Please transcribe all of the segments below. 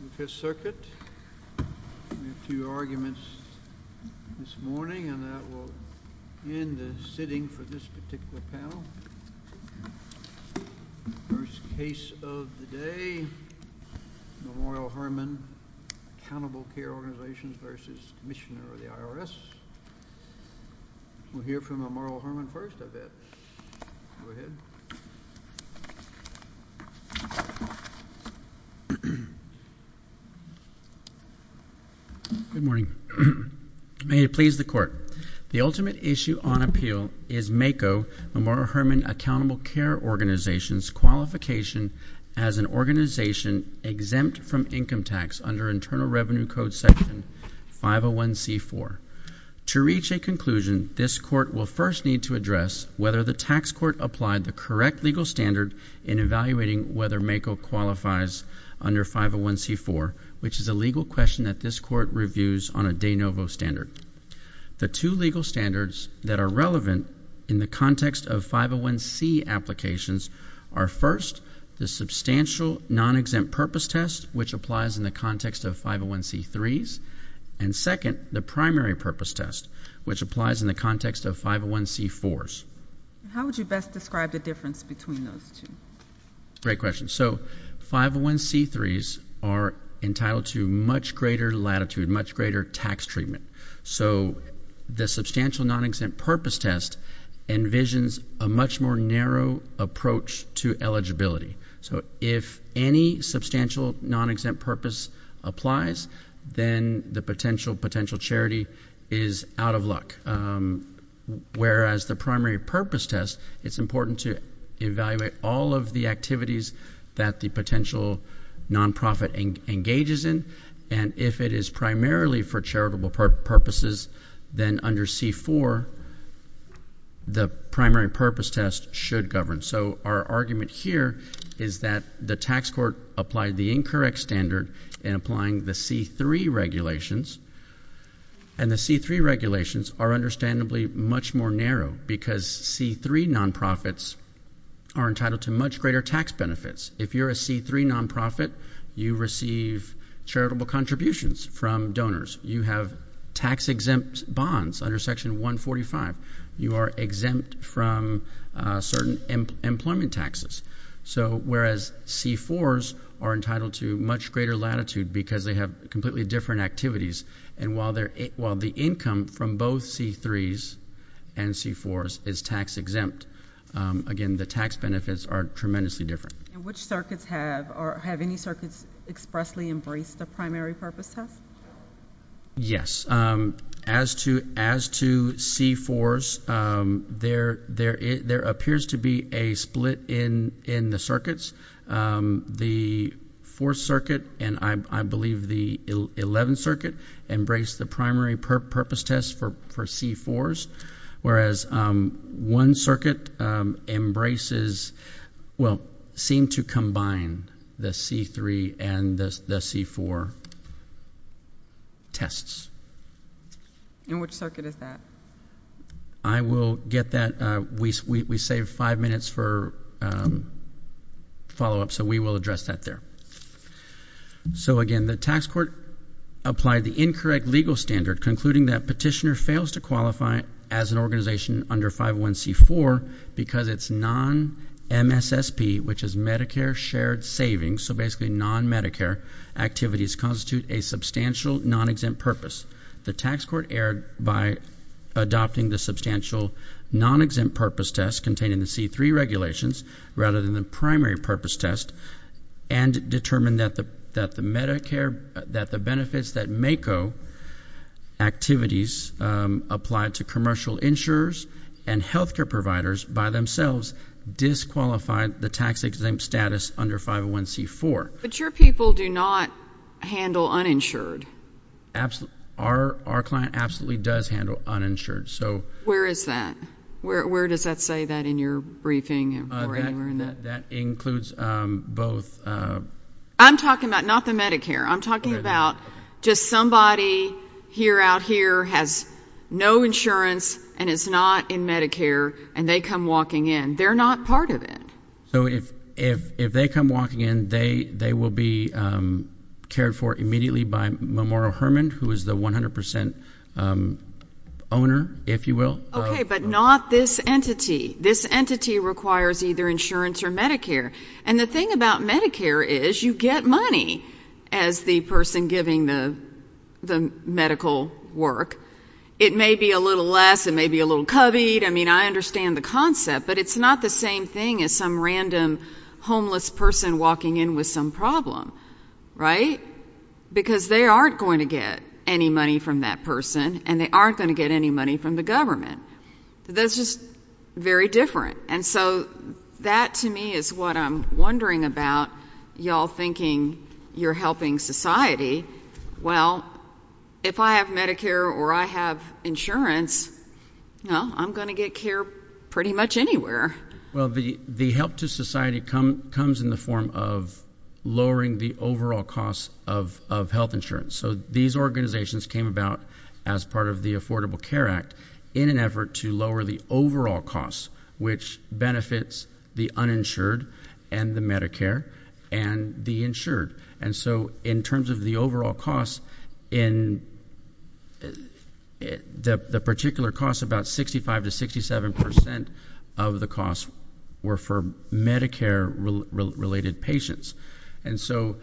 The Fifth Circuit. We have two arguments this morning and that will end the sitting for this particular panel. First case of the day, Memorial Hermann, Accountable Care Organizations v. Commissioner of the IRS. We'll hear from Memorial Hermann first, I bet. Go ahead. Good morning. May it please the Court. The ultimate issue on appeal is MACO, Memorial Hermann Accountable Care Organizations, qualification as an organization exempt from income tax under Internal Revenue Code Section 501c-4. To reach a conclusion, this Court will first need to address whether the tax court applied the correct legal standard in evaluating whether MACO qualifies under 501c-4, which is a legal question that this Court reviews on a de novo standard. The two legal standards that are relevant in the context of 501c applications are, first, the substantial non-exempt purpose test, which applies in the context of 501c-3s, and, second, the primary purpose test, which applies in the context of 501c-4s. How would you best describe the difference between those two? Great question. So 501c-3s are entitled to much greater latitude, much greater tax treatment. So the substantial non-exempt purpose test envisions a much more narrow approach to eligibility. So if any substantial non-exempt purpose applies, then the potential charity is out of luck, whereas the primary purpose test, it's important to evaluate all of the activities that the potential nonprofit engages in, and if it is primarily for charitable purposes, then under 501c-4, the primary purpose test should govern. So our argument here is that the tax court applied the incorrect standard in applying the 501c-3 regulations, and the 501c-3 regulations are understandably much more narrow because 501c-3 nonprofits are entitled to much greater tax benefits. If you're a 501c-3 nonprofit, you receive charitable contributions from donors. You have tax-exempt bonds under Section 145. You are exempt from certain employment taxes, whereas C-4s are entitled to much greater latitude because they have completely different activities, and while the income from both C-3s and C-4s is tax-exempt, again, the tax benefits are tremendously different. And which circuits have, or have any circuits expressly embraced a primary purpose test? Yes. As to C-4s, there appears to be a split in the circuits. The Fourth Circuit and I believe the Eleventh Circuit embraced the primary purpose test for C-4s, whereas One Circuit embraces, well, seemed to combine the C-3 and the C-4 tests. And which circuit is that? I will get that. We saved five minutes for follow-up, so we will address that there. So again, the tax court applied the incorrect legal standard, concluding that petitioner fails to qualify as an organization under 501c-4 because it's non-MSSP, which is Medicare Shared Savings, so basically non-Medicare activities constitute a substantial non-exempt purpose. The tax court erred by adopting the substantial non-exempt purpose test containing the C-3 regulations rather than the primary purpose test and determined that the benefits that MACO activities applied to commercial insurers and health care providers by themselves disqualified the tax exempt status under 501c-4. But your people do not handle uninsured. Absolutely. Our client absolutely does handle uninsured. Where is that? Where does that say that in your briefing or anywhere in that? That includes both. I'm talking about not the Medicare. I'm talking about just somebody here out here has no insurance and is not in Medicare, and they come walking in. They're not part of it. So if they come walking in, they will be cared for immediately by Memorial Hermann, who is the 100 percent owner, if you will. Okay, but not this entity. This entity requires either insurance or Medicare. And the thing about Medicare is you get money as the person giving the medical work. It may be a little less. It may be a little coveyed. I mean, I understand the concept, but it's not the same thing as some random homeless person walking in with some problem, right? Because they aren't going to get any money from that person, and they aren't going to get any money from the government. That's just very different. And so that to me is what I'm wondering about you all thinking you're helping society. Well, if I have Medicare or I have insurance, no, I'm going to get care pretty much anywhere. Well, the help to society comes in the form of lowering the overall cost of health insurance. So these organizations came about as part of the Affordable Care Act in an effort to lower the overall cost, which benefits the uninsured and the Medicare and the insured. And so in terms of the overall cost, in the particular cost, about 65 to 67 percent of the costs were for Medicare-related patients. And so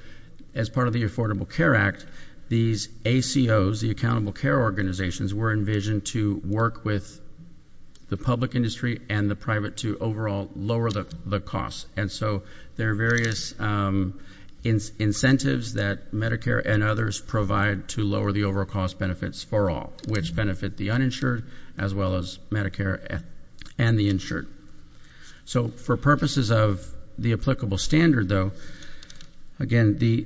as part of the Affordable Care Act, these ACOs, the Accountable Care Organizations, were envisioned to work with the public industry and the private to overall lower the cost. And so there are various incentives that Medicare and others provide to lower the overall cost benefits for all, which benefit the uninsured as well as Medicare and the insured. So for purposes of the applicable standard, though, again, the-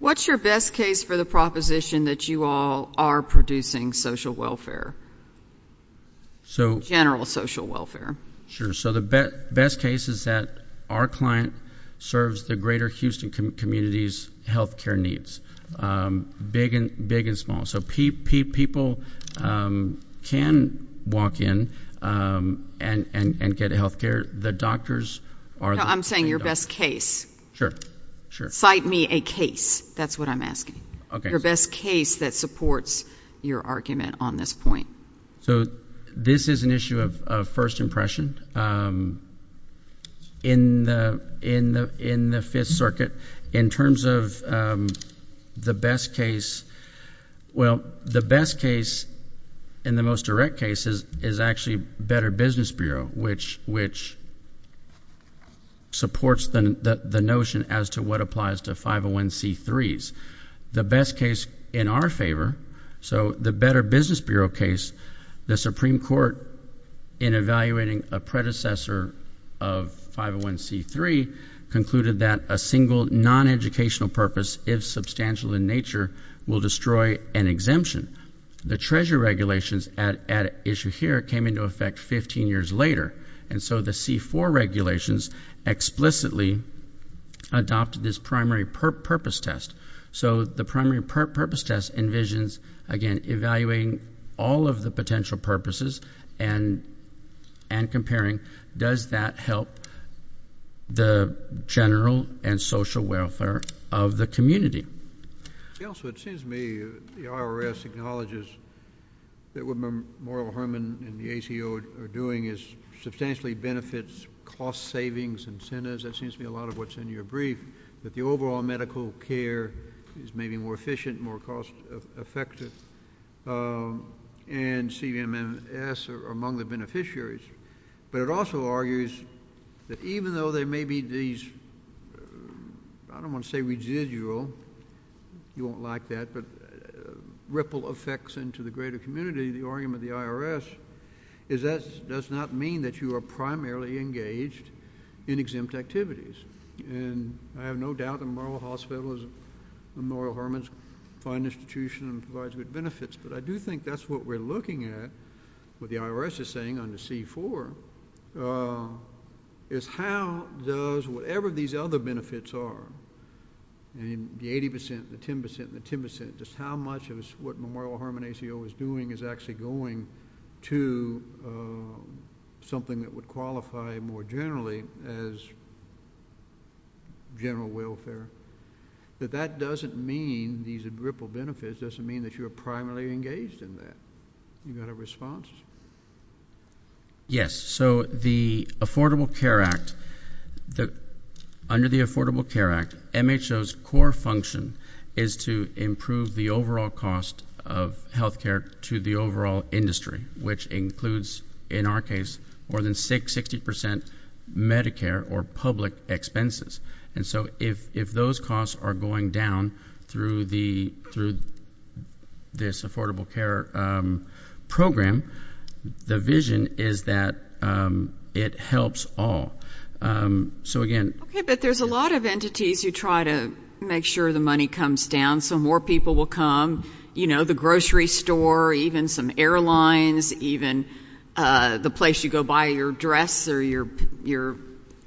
What's your best case for the proposition that you all are producing social welfare, general social welfare? Sure. So the best case is that our client serves the greater Houston community's health care needs, big and small. So people can walk in and get health care. The doctors are- No, I'm saying your best case. Sure, sure. Cite me a case. That's what I'm asking. Okay. Your best case that supports your argument on this point. So this is an issue of first impression. In the Fifth Circuit, in terms of the best case- Well, the best case in the most direct cases is actually Better Business Bureau, which supports the notion as to what applies to 501c3s. The best case in our favor, so the Better Business Bureau case, the Supreme Court, in evaluating a predecessor of 501c3, concluded that a single non-educational purpose, if substantial in nature, will destroy an exemption. The Treasury regulations at issue here came into effect 15 years later, and so the C-4 regulations explicitly adopted this primary purpose test. So the primary purpose test envisions, again, evaluating all of the potential purposes and comparing does that help the general and social welfare of the community. Also, it seems to me the IRS acknowledges that what Memorial Hermann and the ACO are doing substantially benefits cost savings incentives. That seems to be a lot of what's in your brief, that the overall medical care is maybe more efficient, more cost effective, and CBMMS are among the beneficiaries. But it also argues that even though there may be these, I don't want to say residual, you won't like that, but ripple effects into the greater community, the argument of the IRS is that does not mean that you are primarily engaged in exempt activities. And I have no doubt that Memorial Hospital, Memorial Hermann's fine institution provides good benefits, but I do think that's what we're looking at, what the IRS is saying on the C-4, is how does whatever these other benefits are, the 80 percent, the 10 percent, the 10 percent, just how much of what Memorial Hermann ACO is doing is actually going to something that would qualify more generally as general welfare, that that doesn't mean these ripple benefits doesn't mean that you are primarily engaged in that. You got a response? Yes. So the Affordable Care Act, under the Affordable Care Act, MHO's core function is to improve the overall cost of health care to the overall industry, which includes, in our case, more than 60 percent Medicare or public expenses. And so if those costs are going down through this Affordable Care program, the vision is that it helps all. So, again. Okay, but there's a lot of entities who try to make sure the money comes down so more people will come, you know, the grocery store, even some airlines, even the place you go buy your dress or your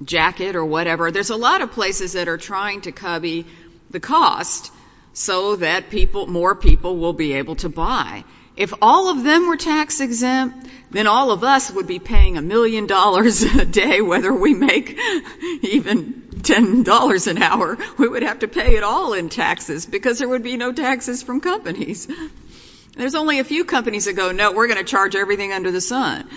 jacket or whatever. There's a lot of places that are trying to cubby the cost so that more people will be able to buy. If all of them were tax exempt, then all of us would be paying a million dollars a day, whether we make even $10 an hour. We would have to pay it all in taxes because there would be no taxes from companies. There's only a few companies that go, no, we're going to charge everything under the sun.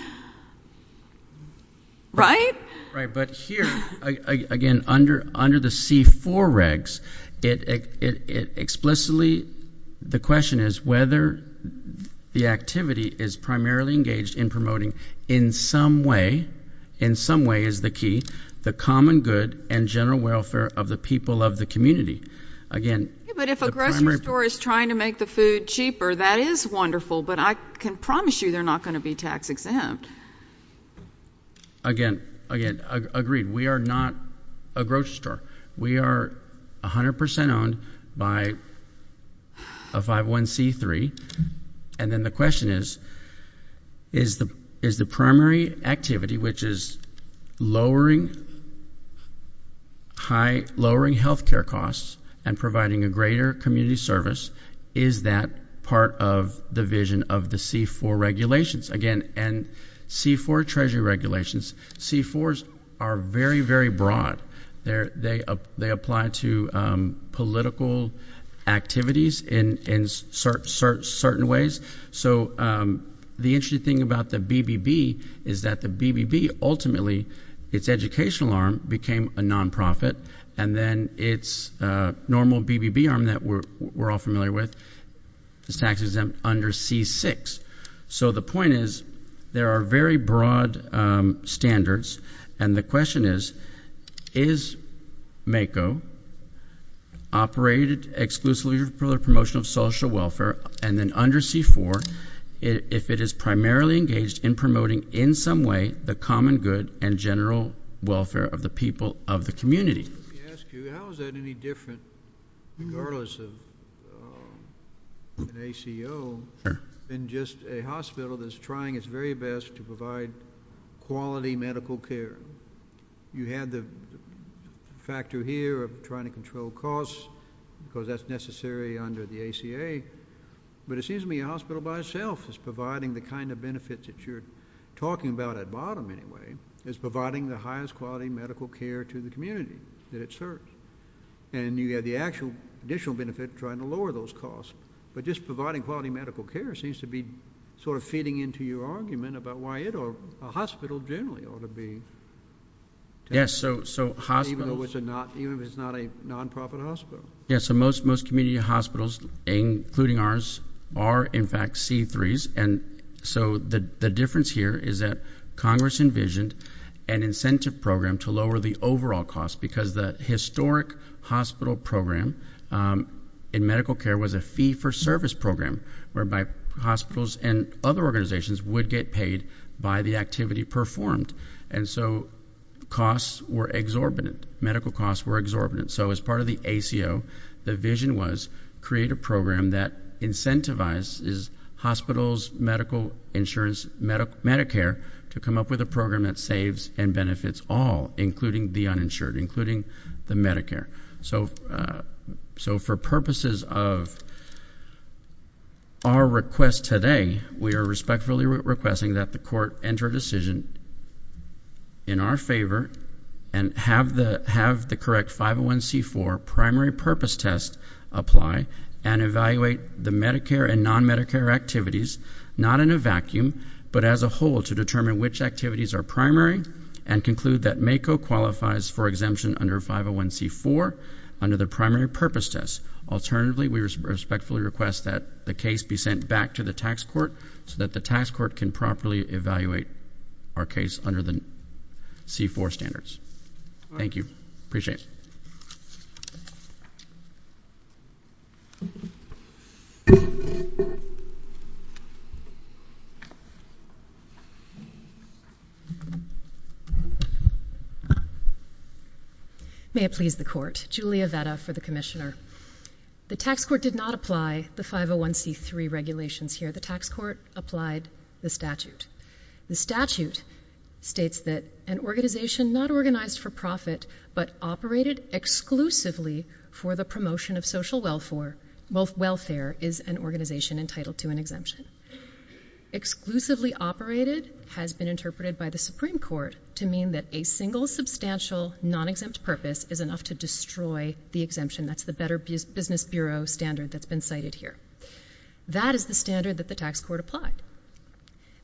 Right? Right. But here, again, under the C-4 regs, explicitly the question is whether the activity is primarily engaged in promoting, in some way, in some way is the key, the common good and general welfare of the people of the community. But if a grocery store is trying to make the food cheaper, that is wonderful, but I can promise you they're not going to be tax exempt. Again, again, agreed. We are not a grocery store. We are 100% owned by a 5-1-C-3, and then the question is, is the primary activity, which is lowering health care costs and providing a greater community service, is that part of the vision of the C-4 regulations? Again, C-4 treasury regulations, C-4s are very, very broad. They apply to political activities in certain ways. So the interesting thing about the BBB is that the BBB ultimately, its educational arm became a nonprofit, and then its normal BBB arm that we're all familiar with is tax exempt under C-6. So the point is, there are very broad standards, and the question is, is MACO, Operated Exclusive Promotion of Social Welfare, and then under C-4, if it is primarily engaged in promoting, in some way, the common good and general welfare of the people of the community. Let me ask you, how is that any different, regardless of an ACO, than just a hospital that's trying its very best to provide quality medical care? You had the factor here of trying to control costs because that's necessary under the ACA, but it seems to me a hospital by itself is providing the kind of benefits that you're talking about at bottom, anyway, is providing the highest quality medical care to the community that it serves. And you have the actual additional benefit of trying to lower those costs, but just providing quality medical care seems to be sort of feeding into your argument about why a hospital generally ought to be taxed, even if it's not a nonprofit hospital. Yes, so most community hospitals, including ours, are, in fact, C-3s, and so the difference here is that Congress envisioned an incentive program to lower the overall cost because the historic hospital program in medical care was a fee-for-service program, whereby hospitals and other organizations would get paid by the activity performed, and so costs were exorbitant, medical costs were exorbitant. So as part of the ACO, the vision was create a program that incentivizes hospitals, medical insurance, Medicare to come up with a program that saves and benefits all, including the uninsured, including the Medicare. So for purposes of our request today, we are respectfully requesting that the court enter a decision in our favor and have the correct 501c-4 primary purpose test apply and evaluate the Medicare and non-Medicare activities, not in a vacuum, but as a whole to determine which activities are primary and conclude that MACO qualifies for exemption under 501c-4 under the primary purpose test. Alternatively, we respectfully request that the case be sent back to the tax court so that the tax court can properly evaluate our case under the C-4 standards. Thank you. Appreciate it. May it please the court. Julia Vetta for the commissioner. The tax court did not apply the 501c-3 regulations here. The tax court applied the statute. The statute states that an organization not organized for profit, but operated exclusively for the promotion of social welfare is an organization entitled to an exemption. Exclusively operated has been interpreted by the Supreme Court to mean that a single substantial non-exempt purpose is enough to destroy the exemption. That's the Better Business Bureau standard that's been cited here. That is the standard that the tax court applied.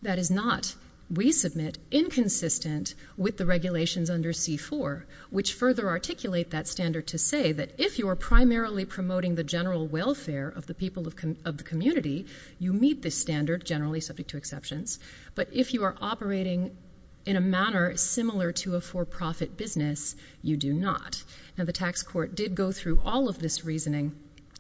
That is not, we submit, inconsistent with the regulations under C-4, which further articulate that standard to say that if you are primarily promoting the general welfare of the people of the community, you meet this standard, generally subject to exceptions, but if you are operating in a manner similar to a for-profit business, you do not. Now, the tax court did go through all of this reasoning,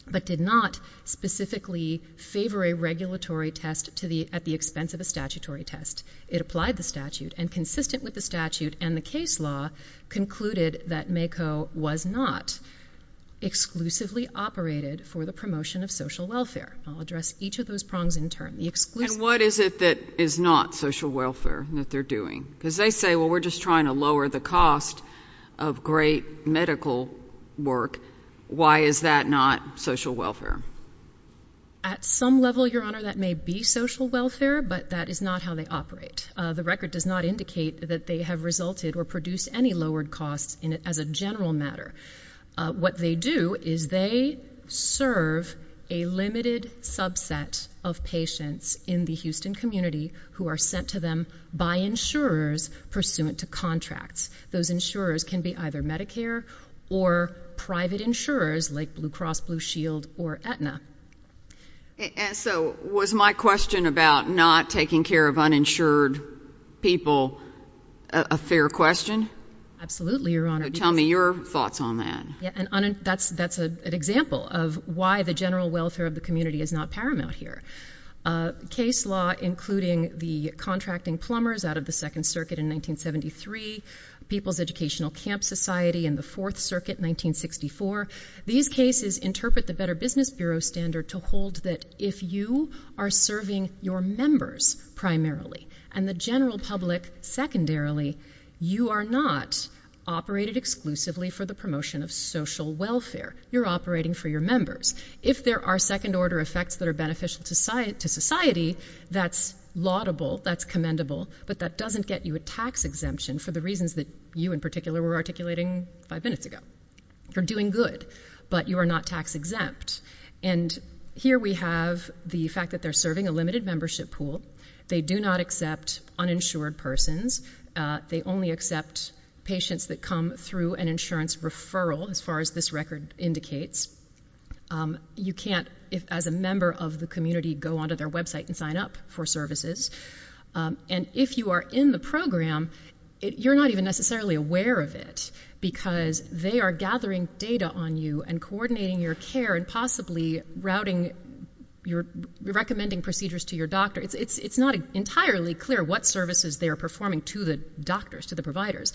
but did not specifically favor a regulatory test at the expense of a statutory test. It applied the statute, and consistent with the statute and the case law, concluded that MACO was not exclusively operated for the promotion of social welfare. I'll address each of those prongs in turn. And what is it that is not social welfare that they're doing? Because they say, well, we're just trying to lower the cost of great medical work. Why is that not social welfare? At some level, Your Honor, that may be social welfare, but that is not how they operate. The record does not indicate that they have resulted or produced any lowered costs as a general matter. What they do is they serve a limited subset of patients in the Houston community who are sent to them by insurers pursuant to contracts. Those insurers can be either Medicare or private insurers like Blue Cross Blue Shield or Aetna. So was my question about not taking care of uninsured people a fair question? Absolutely, Your Honor. Tell me your thoughts on that. That's an example of why the general welfare of the community is not paramount here. Case law, including the contracting plumbers out of the Second Circuit in 1973, People's Educational Camp Society in the Fourth Circuit, 1964, these cases interpret the Better Business Bureau standard to hold that if you are serving your members primarily and the general public secondarily, you are not operated exclusively for the promotion of social welfare. You're operating for your members. If there are second-order effects that are beneficial to society, that's laudable, that's commendable, but that doesn't get you a tax exemption for the reasons that you in particular were articulating five minutes ago. You're doing good, but you are not tax exempt. And here we have the fact that they're serving a limited membership pool. They do not accept uninsured persons. They only accept patients that come through an insurance referral, as far as this record indicates. You can't, as a member of the community, go onto their website and sign up for services. And if you are in the program, you're not even necessarily aware of it, because they are gathering data on you and coordinating your care and possibly routing your recommending procedures to your doctor. It's not entirely clear what services they are performing to the doctors, to the providers.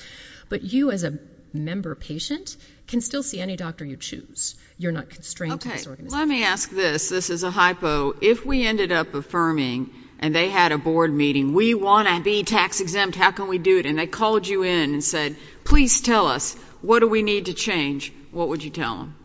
But you, as a member patient, can still see any doctor you choose. You're not constrained to this organization. Okay, let me ask this. This is a hypo. If we ended up affirming, and they had a board meeting, we want to be tax exempt, how can we do it, and they called you in and said, please tell us, what do we need to change, what would you tell them?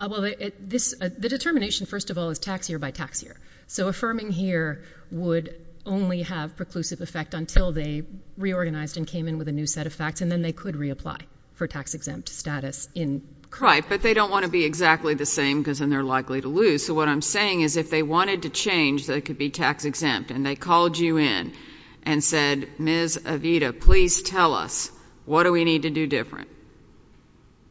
Well, the determination, first of all, is tax year by tax year. So affirming here would only have preclusive effect until they reorganized and came in with a new set of facts, and then they could reapply for tax exempt status in CRIPE. But they don't want to be exactly the same, because then they're likely to lose. So what I'm saying is, if they wanted to change, they could be tax exempt, and they called you in and said, Ms. Avita, please tell us, what do we need to do different?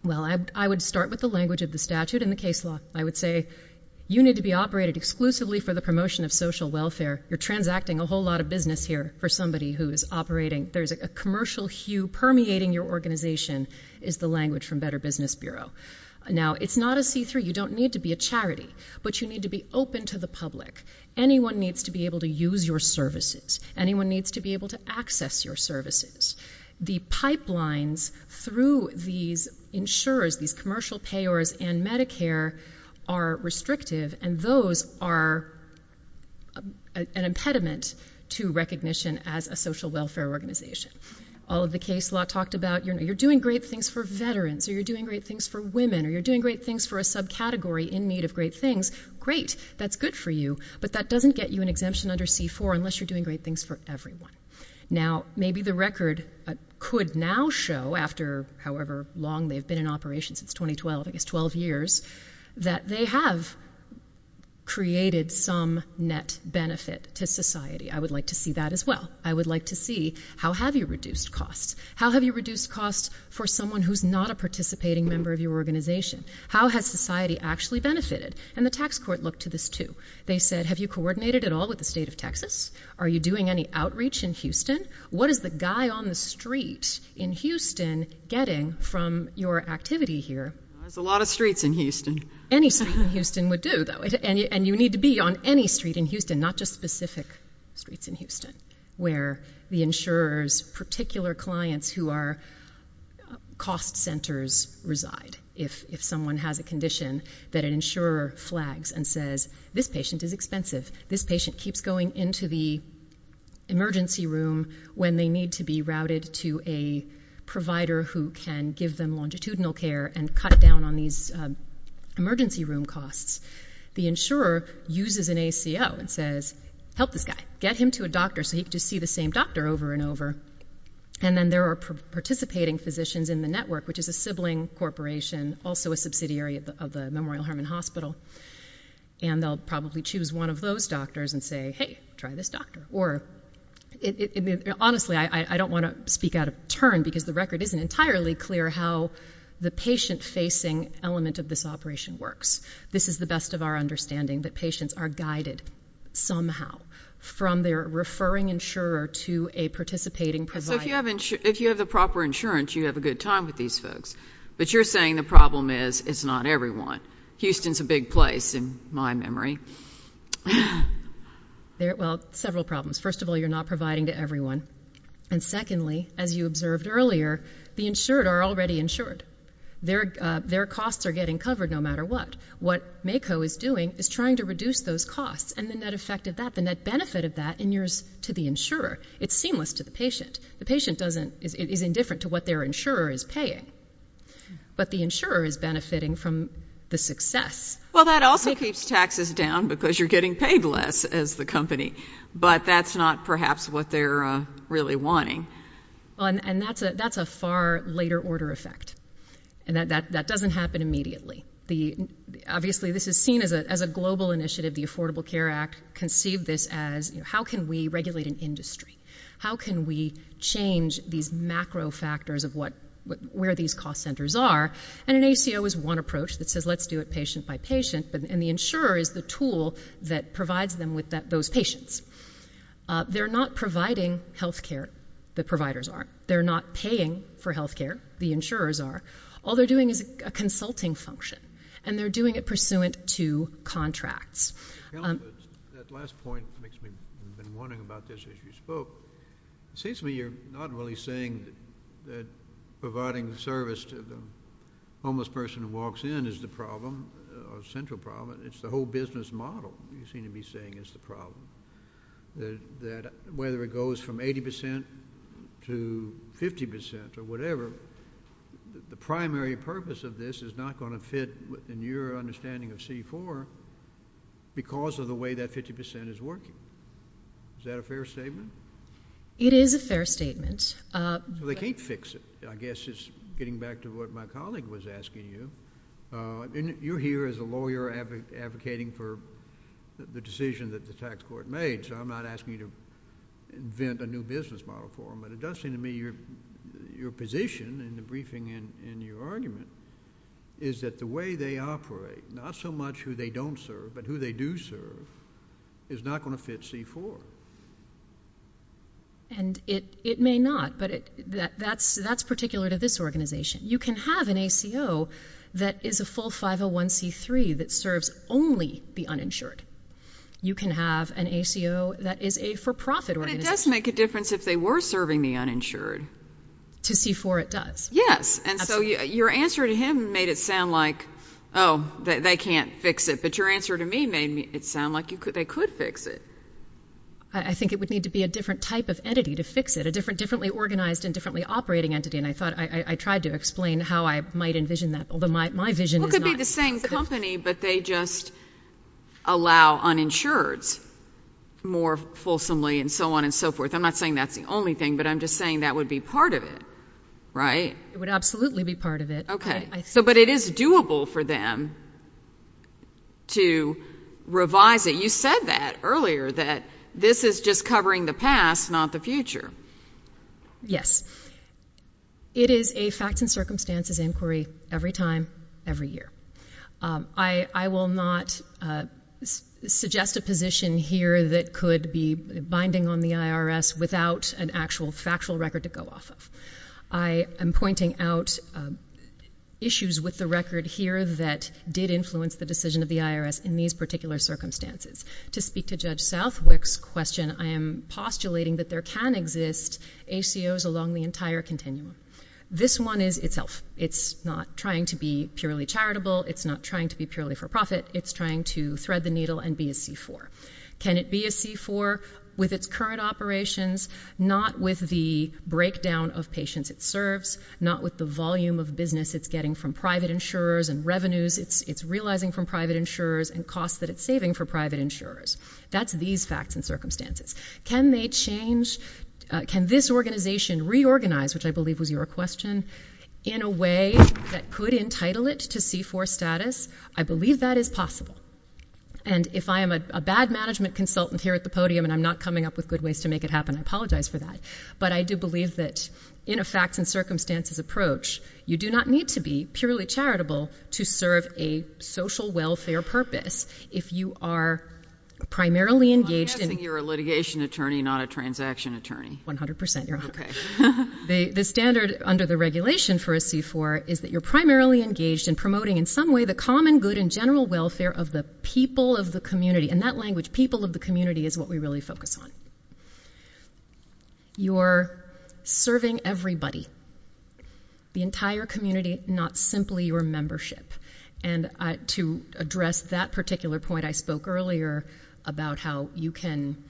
Well, I would start with the language of the statute and the case law. I would say you need to be operated exclusively for the promotion of social welfare. You're transacting a whole lot of business here for somebody who is operating. There's a commercial hue permeating your organization is the language from Better Business Bureau. Now, it's not a see-through. You don't need to be a charity, but you need to be open to the public. Anyone needs to be able to use your services. Anyone needs to be able to access your services. The pipelines through these insurers, these commercial payers and Medicare, are restrictive, and those are an impediment to recognition as a social welfare organization. All of the case law talked about, you're doing great things for veterans, or you're doing great things for women, or you're doing great things for a subcategory in need of great things. Great, that's good for you, but that doesn't get you an exemption under C-4 unless you're doing great things for everyone. Now, maybe the record could now show, after however long they've been in operation, since 2012, I guess 12 years, that they have created some net benefit to society. I would like to see that as well. I would like to see how have you reduced costs. How have you reduced costs for someone who's not a participating member of your organization? How has society actually benefited? And the tax court looked to this too. They said, have you coordinated at all with the state of Texas? Are you doing any outreach in Houston? What is the guy on the street in Houston getting from your activity here? There's a lot of streets in Houston. Any street in Houston would do, though. And you need to be on any street in Houston, not just specific streets in Houston, where the insurer's particular clients who are cost centers reside. If someone has a condition that an insurer flags and says, this patient is expensive, this patient keeps going into the emergency room when they need to be routed to a provider who can give them longitudinal care and cut down on these emergency room costs, the insurer uses an ACO and says, help this guy. Get him to a doctor so he can just see the same doctor over and over. And then there are participating physicians in the network, which is a sibling corporation, also a subsidiary of the Memorial Hermann Hospital, and they'll probably choose one of those doctors and say, hey, try this doctor. Honestly, I don't want to speak out of turn, because the record isn't entirely clear how the patient-facing element of this operation works. This is the best of our understanding, that patients are guided somehow from their referring insurer to a participating provider. So if you have the proper insurance, you have a good time with these folks. But you're saying the problem is it's not everyone. Houston's a big place in my memory. Well, several problems. First of all, you're not providing to everyone. And secondly, as you observed earlier, the insured are already insured. Their costs are getting covered no matter what. What MACO is doing is trying to reduce those costs and the net effect of that, the net benefit of that to the insurer. It's seamless to the patient. The patient is indifferent to what their insurer is paying. But the insurer is benefiting from the success. Well, that also keeps taxes down because you're getting paid less as the company. But that's not perhaps what they're really wanting. And that's a far later order effect. That doesn't happen immediately. Obviously, this is seen as a global initiative. The Affordable Care Act conceived this as how can we regulate an industry? How can we change these macro factors of where these cost centers are? And an ACO is one approach that says let's do it patient by patient. And the insurer is the tool that provides them with those patients. They're not providing health care. The providers aren't. They're not paying for health care. The insurers are. All they're doing is a consulting function. And they're doing it pursuant to contracts. That last point makes me been wondering about this as you spoke. It seems to me you're not really saying that providing service to the homeless person who walks in is the problem or central problem. It's the whole business model you seem to be saying is the problem, that whether it goes from 80% to 50% or whatever, the primary purpose of this is not going to fit in your understanding of C4 because of the way that 50% is working. Is that a fair statement? It is a fair statement. They can't fix it, I guess, is getting back to what my colleague was asking you. You're here as a lawyer advocating for the decision that the tax court made, so I'm not asking you to invent a new business model for them. But it does seem to me your position in the briefing and your argument is that the way they operate, not so much who they don't serve but who they do serve, is not going to fit C4. And it may not, but that's particular to this organization. You can have an ACO that is a full 501C3 that serves only the uninsured. You can have an ACO that is a for-profit organization. It does make a difference if they were serving the uninsured. To C4 it does. Yes, and so your answer to him made it sound like, oh, they can't fix it, but your answer to me made it sound like they could fix it. I think it would need to be a different type of entity to fix it, a differently organized and differently operating entity, and I tried to explain how I might envision that, although my vision is not. But they just allow uninsureds more fulsomely and so on and so forth. I'm not saying that's the only thing, but I'm just saying that would be part of it, right? It would absolutely be part of it. Okay, but it is doable for them to revise it. You said that earlier, that this is just covering the past, not the future. Yes, it is a facts and circumstances inquiry every time, every year. I will not suggest a position here that could be binding on the IRS without an actual factual record to go off of. I am pointing out issues with the record here that did influence the decision of the IRS in these particular circumstances. To speak to Judge Southwick's question, I am postulating that there can exist ACOs along the entire continuum. This one is itself. It's not trying to be purely charitable. It's not trying to be purely for profit. It's trying to thread the needle and be a C-4. Can it be a C-4 with its current operations, not with the breakdown of patients it serves, not with the volume of business it's getting from private insurers and revenues it's realizing from private insurers and costs that it's saving for private insurers? That's these facts and circumstances. Can this organization reorganize, which I believe was your question, in a way that could entitle it to C-4 status? I believe that is possible. And if I am a bad management consultant here at the podium and I'm not coming up with good ways to make it happen, I apologize for that. But I do believe that in a facts and circumstances approach, you do not need to be purely charitable to serve a social welfare purpose. If you are primarily engaged in... I'm guessing you're a litigation attorney, not a transaction attorney. 100%. The standard under the regulation for a C-4 is that you're primarily engaged in promoting in some way the common good and general welfare of the people of the community. In that language, people of the community is what we really focus on. You're serving everybody. The entire community, not simply your membership. And to address that particular point I spoke earlier about how you can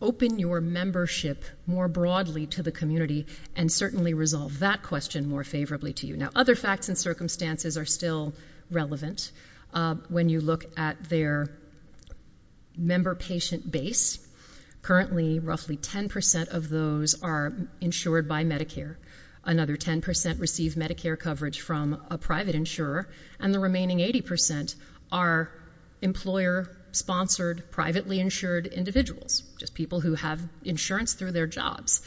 open your membership more broadly to the community and certainly resolve that question more favorably to you. Now, other facts and circumstances are still relevant. When you look at their member-patient base, currently roughly 10% of those are insured by Medicare. Another 10% receive Medicare coverage from a private insurer and the remaining 80% are employer-sponsored, privately insured individuals. Just people who have insurance through their jobs.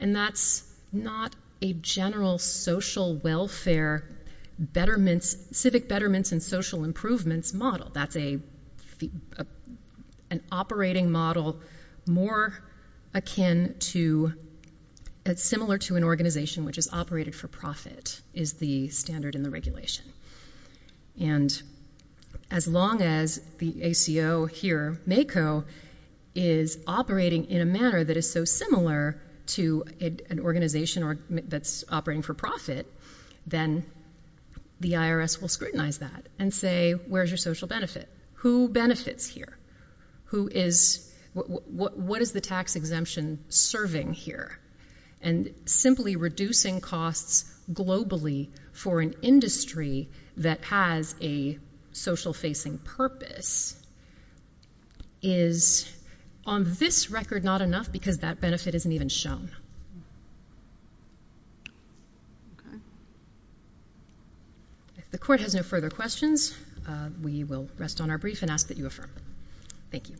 And that's not a general social welfare, civic betterments and social improvements model. That's an operating model more akin to, similar to an organization which is operated for profit is the standard in the regulation. And as long as the ACO here, MACO, is operating in a manner that is so similar to an organization that's operating for profit, then the IRS will scrutinize that and say, where's your social benefit? Who benefits here? What is the tax exemption serving here? And simply reducing costs globally for an industry that has a social-facing purpose is on this record not enough because that benefit isn't even shown. If the court has no further questions, we will rest on our brief and ask that you affirm. Thank you.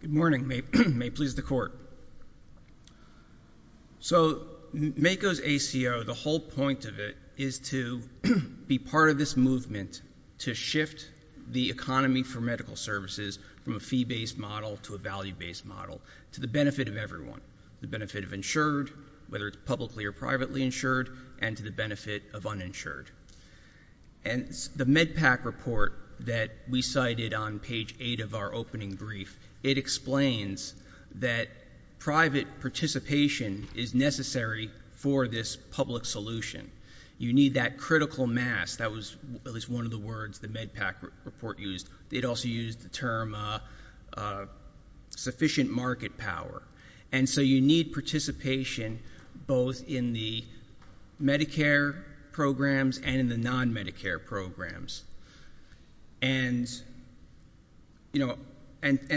Good morning. May it please the court. So MACO's ACO, the whole point of it is to be part of this movement to shift the economy for medical services from a fee-based model to a value-based model to the benefit of everyone, the benefit of insured, whether it's publicly or privately insured, and to the benefit of uninsured. And the MedPAC report that we cited on page 8 of our opening brief, it explains that private participation is necessary for this public solution. You need that critical mass. That was at least one of the words the MedPAC report used. It also used the term sufficient market power. And so you need participation both in the Medicare programs and in the non-Medicare programs. And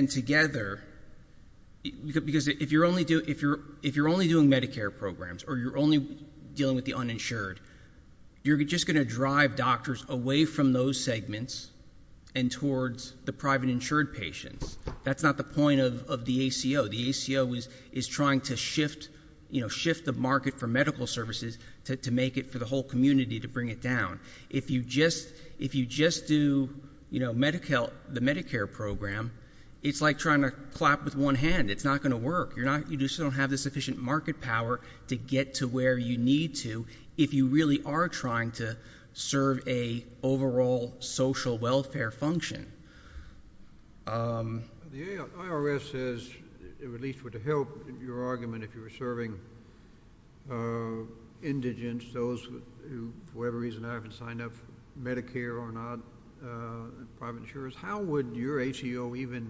together, because if you're only doing Medicare programs or you're only dealing with the uninsured, you're just going to drive doctors away from those segments and towards the private insured patients. That's not the point of the ACO. The ACO is trying to shift the market for medical services to make it for the whole community to bring it down. If you just do, you know, the Medicare program, it's like trying to clap with one hand. It's not going to work. You just don't have the sufficient market power to get to where you need to if you really are trying to serve an overall social welfare function. The IRS says, at least with the help of your argument, if you were serving indigent, those who, for whatever reason, haven't signed up for Medicare or not, private insurers, how would your ACO even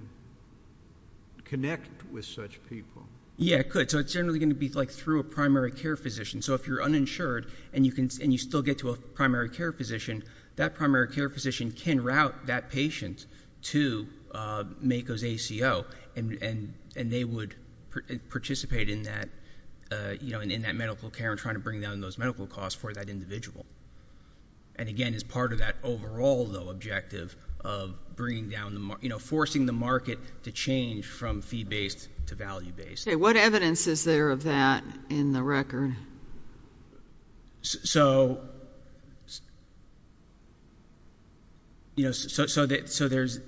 connect with such people? Yeah, it could. So it's generally going to be like through a primary care physician. So if you're uninsured and you still get to a primary care physician, that primary care physician can route that patient to MACO's ACO, and they would participate in that medical care and trying to bring down those medical costs for that individual. And, again, as part of that overall, though, objective of bringing down the market, you know, forcing the market to change from fee-based to value-based. Okay. What evidence is there of that in the record? So, you know, so there's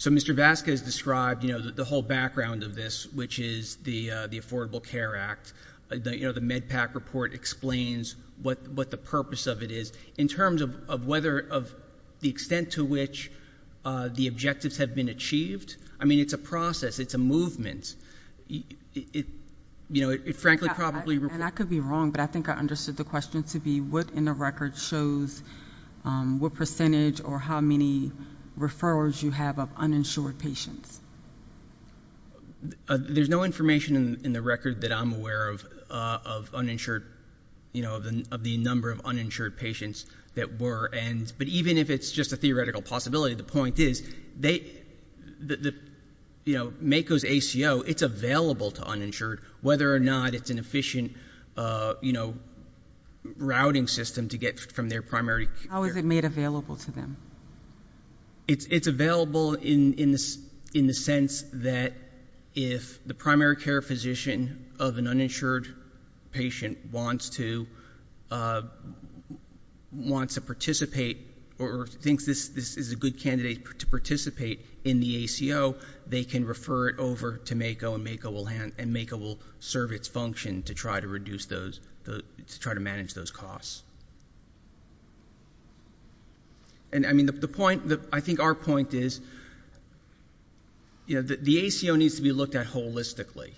Mr. Vazquez described, you know, the whole background of this, which is the Affordable Care Act. You know, the MedPAC report explains what the purpose of it is. In terms of whether the extent to which the objectives have been achieved, I mean, it's a process. It's a movement. It's, you know, it frankly probably. And I could be wrong, but I think I understood the question to be, what in the record shows what percentage or how many referrals you have of uninsured patients? There's no information in the record that I'm aware of uninsured, you know, of the number of uninsured patients that were. But even if it's just a theoretical possibility, the point is they, you know, MAKO's ACO, it's available to uninsured, whether or not it's an efficient, you know, routing system to get from their primary care. How is it made available to them? It's available in the sense that if the primary care physician of an uninsured patient wants to participate or thinks this is a good candidate to participate in the ACO, they can refer it over to MAKO and MAKO will serve its function to try to reduce those, to try to manage those costs. And, I mean, the point, I think our point is, you know, the ACO needs to be looked at holistically.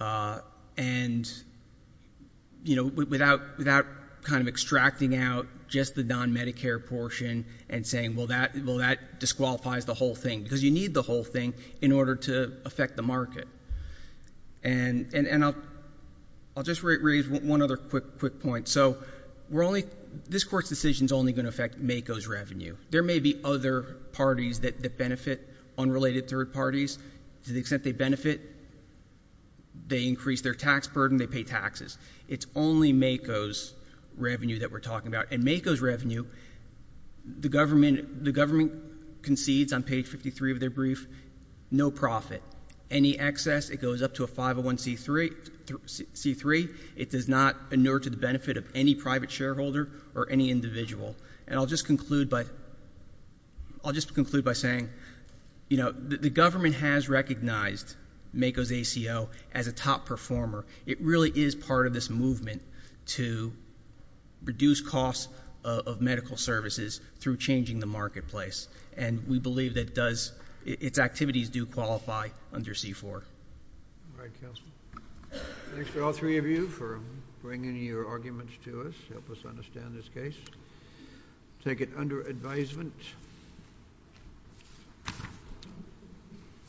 And, you know, without kind of extracting out just the non-Medicare portion and saying, well, that disqualifies the whole thing, because you need the whole thing in order to affect the market. And I'll just raise one other quick point. So this Court's decision is only going to affect MAKO's revenue. There may be other parties that benefit, unrelated third parties. To the extent they benefit, they increase their tax burden, they pay taxes. It's only MAKO's revenue that we're talking about. And MAKO's revenue, the government concedes on page 53 of their brief, no profit. Any excess, it goes up to a 501C3. It does not inure to the benefit of any private shareholder or any individual. And I'll just conclude by saying, you know, the government has recognized MAKO's ACO as a top performer. It really is part of this movement to reduce costs of medical services through changing the marketplace. And we believe that it does, its activities do qualify under C4. All right, counsel. Thanks to all three of you for bringing your arguments to us, help us understand this case. Take it under advisement.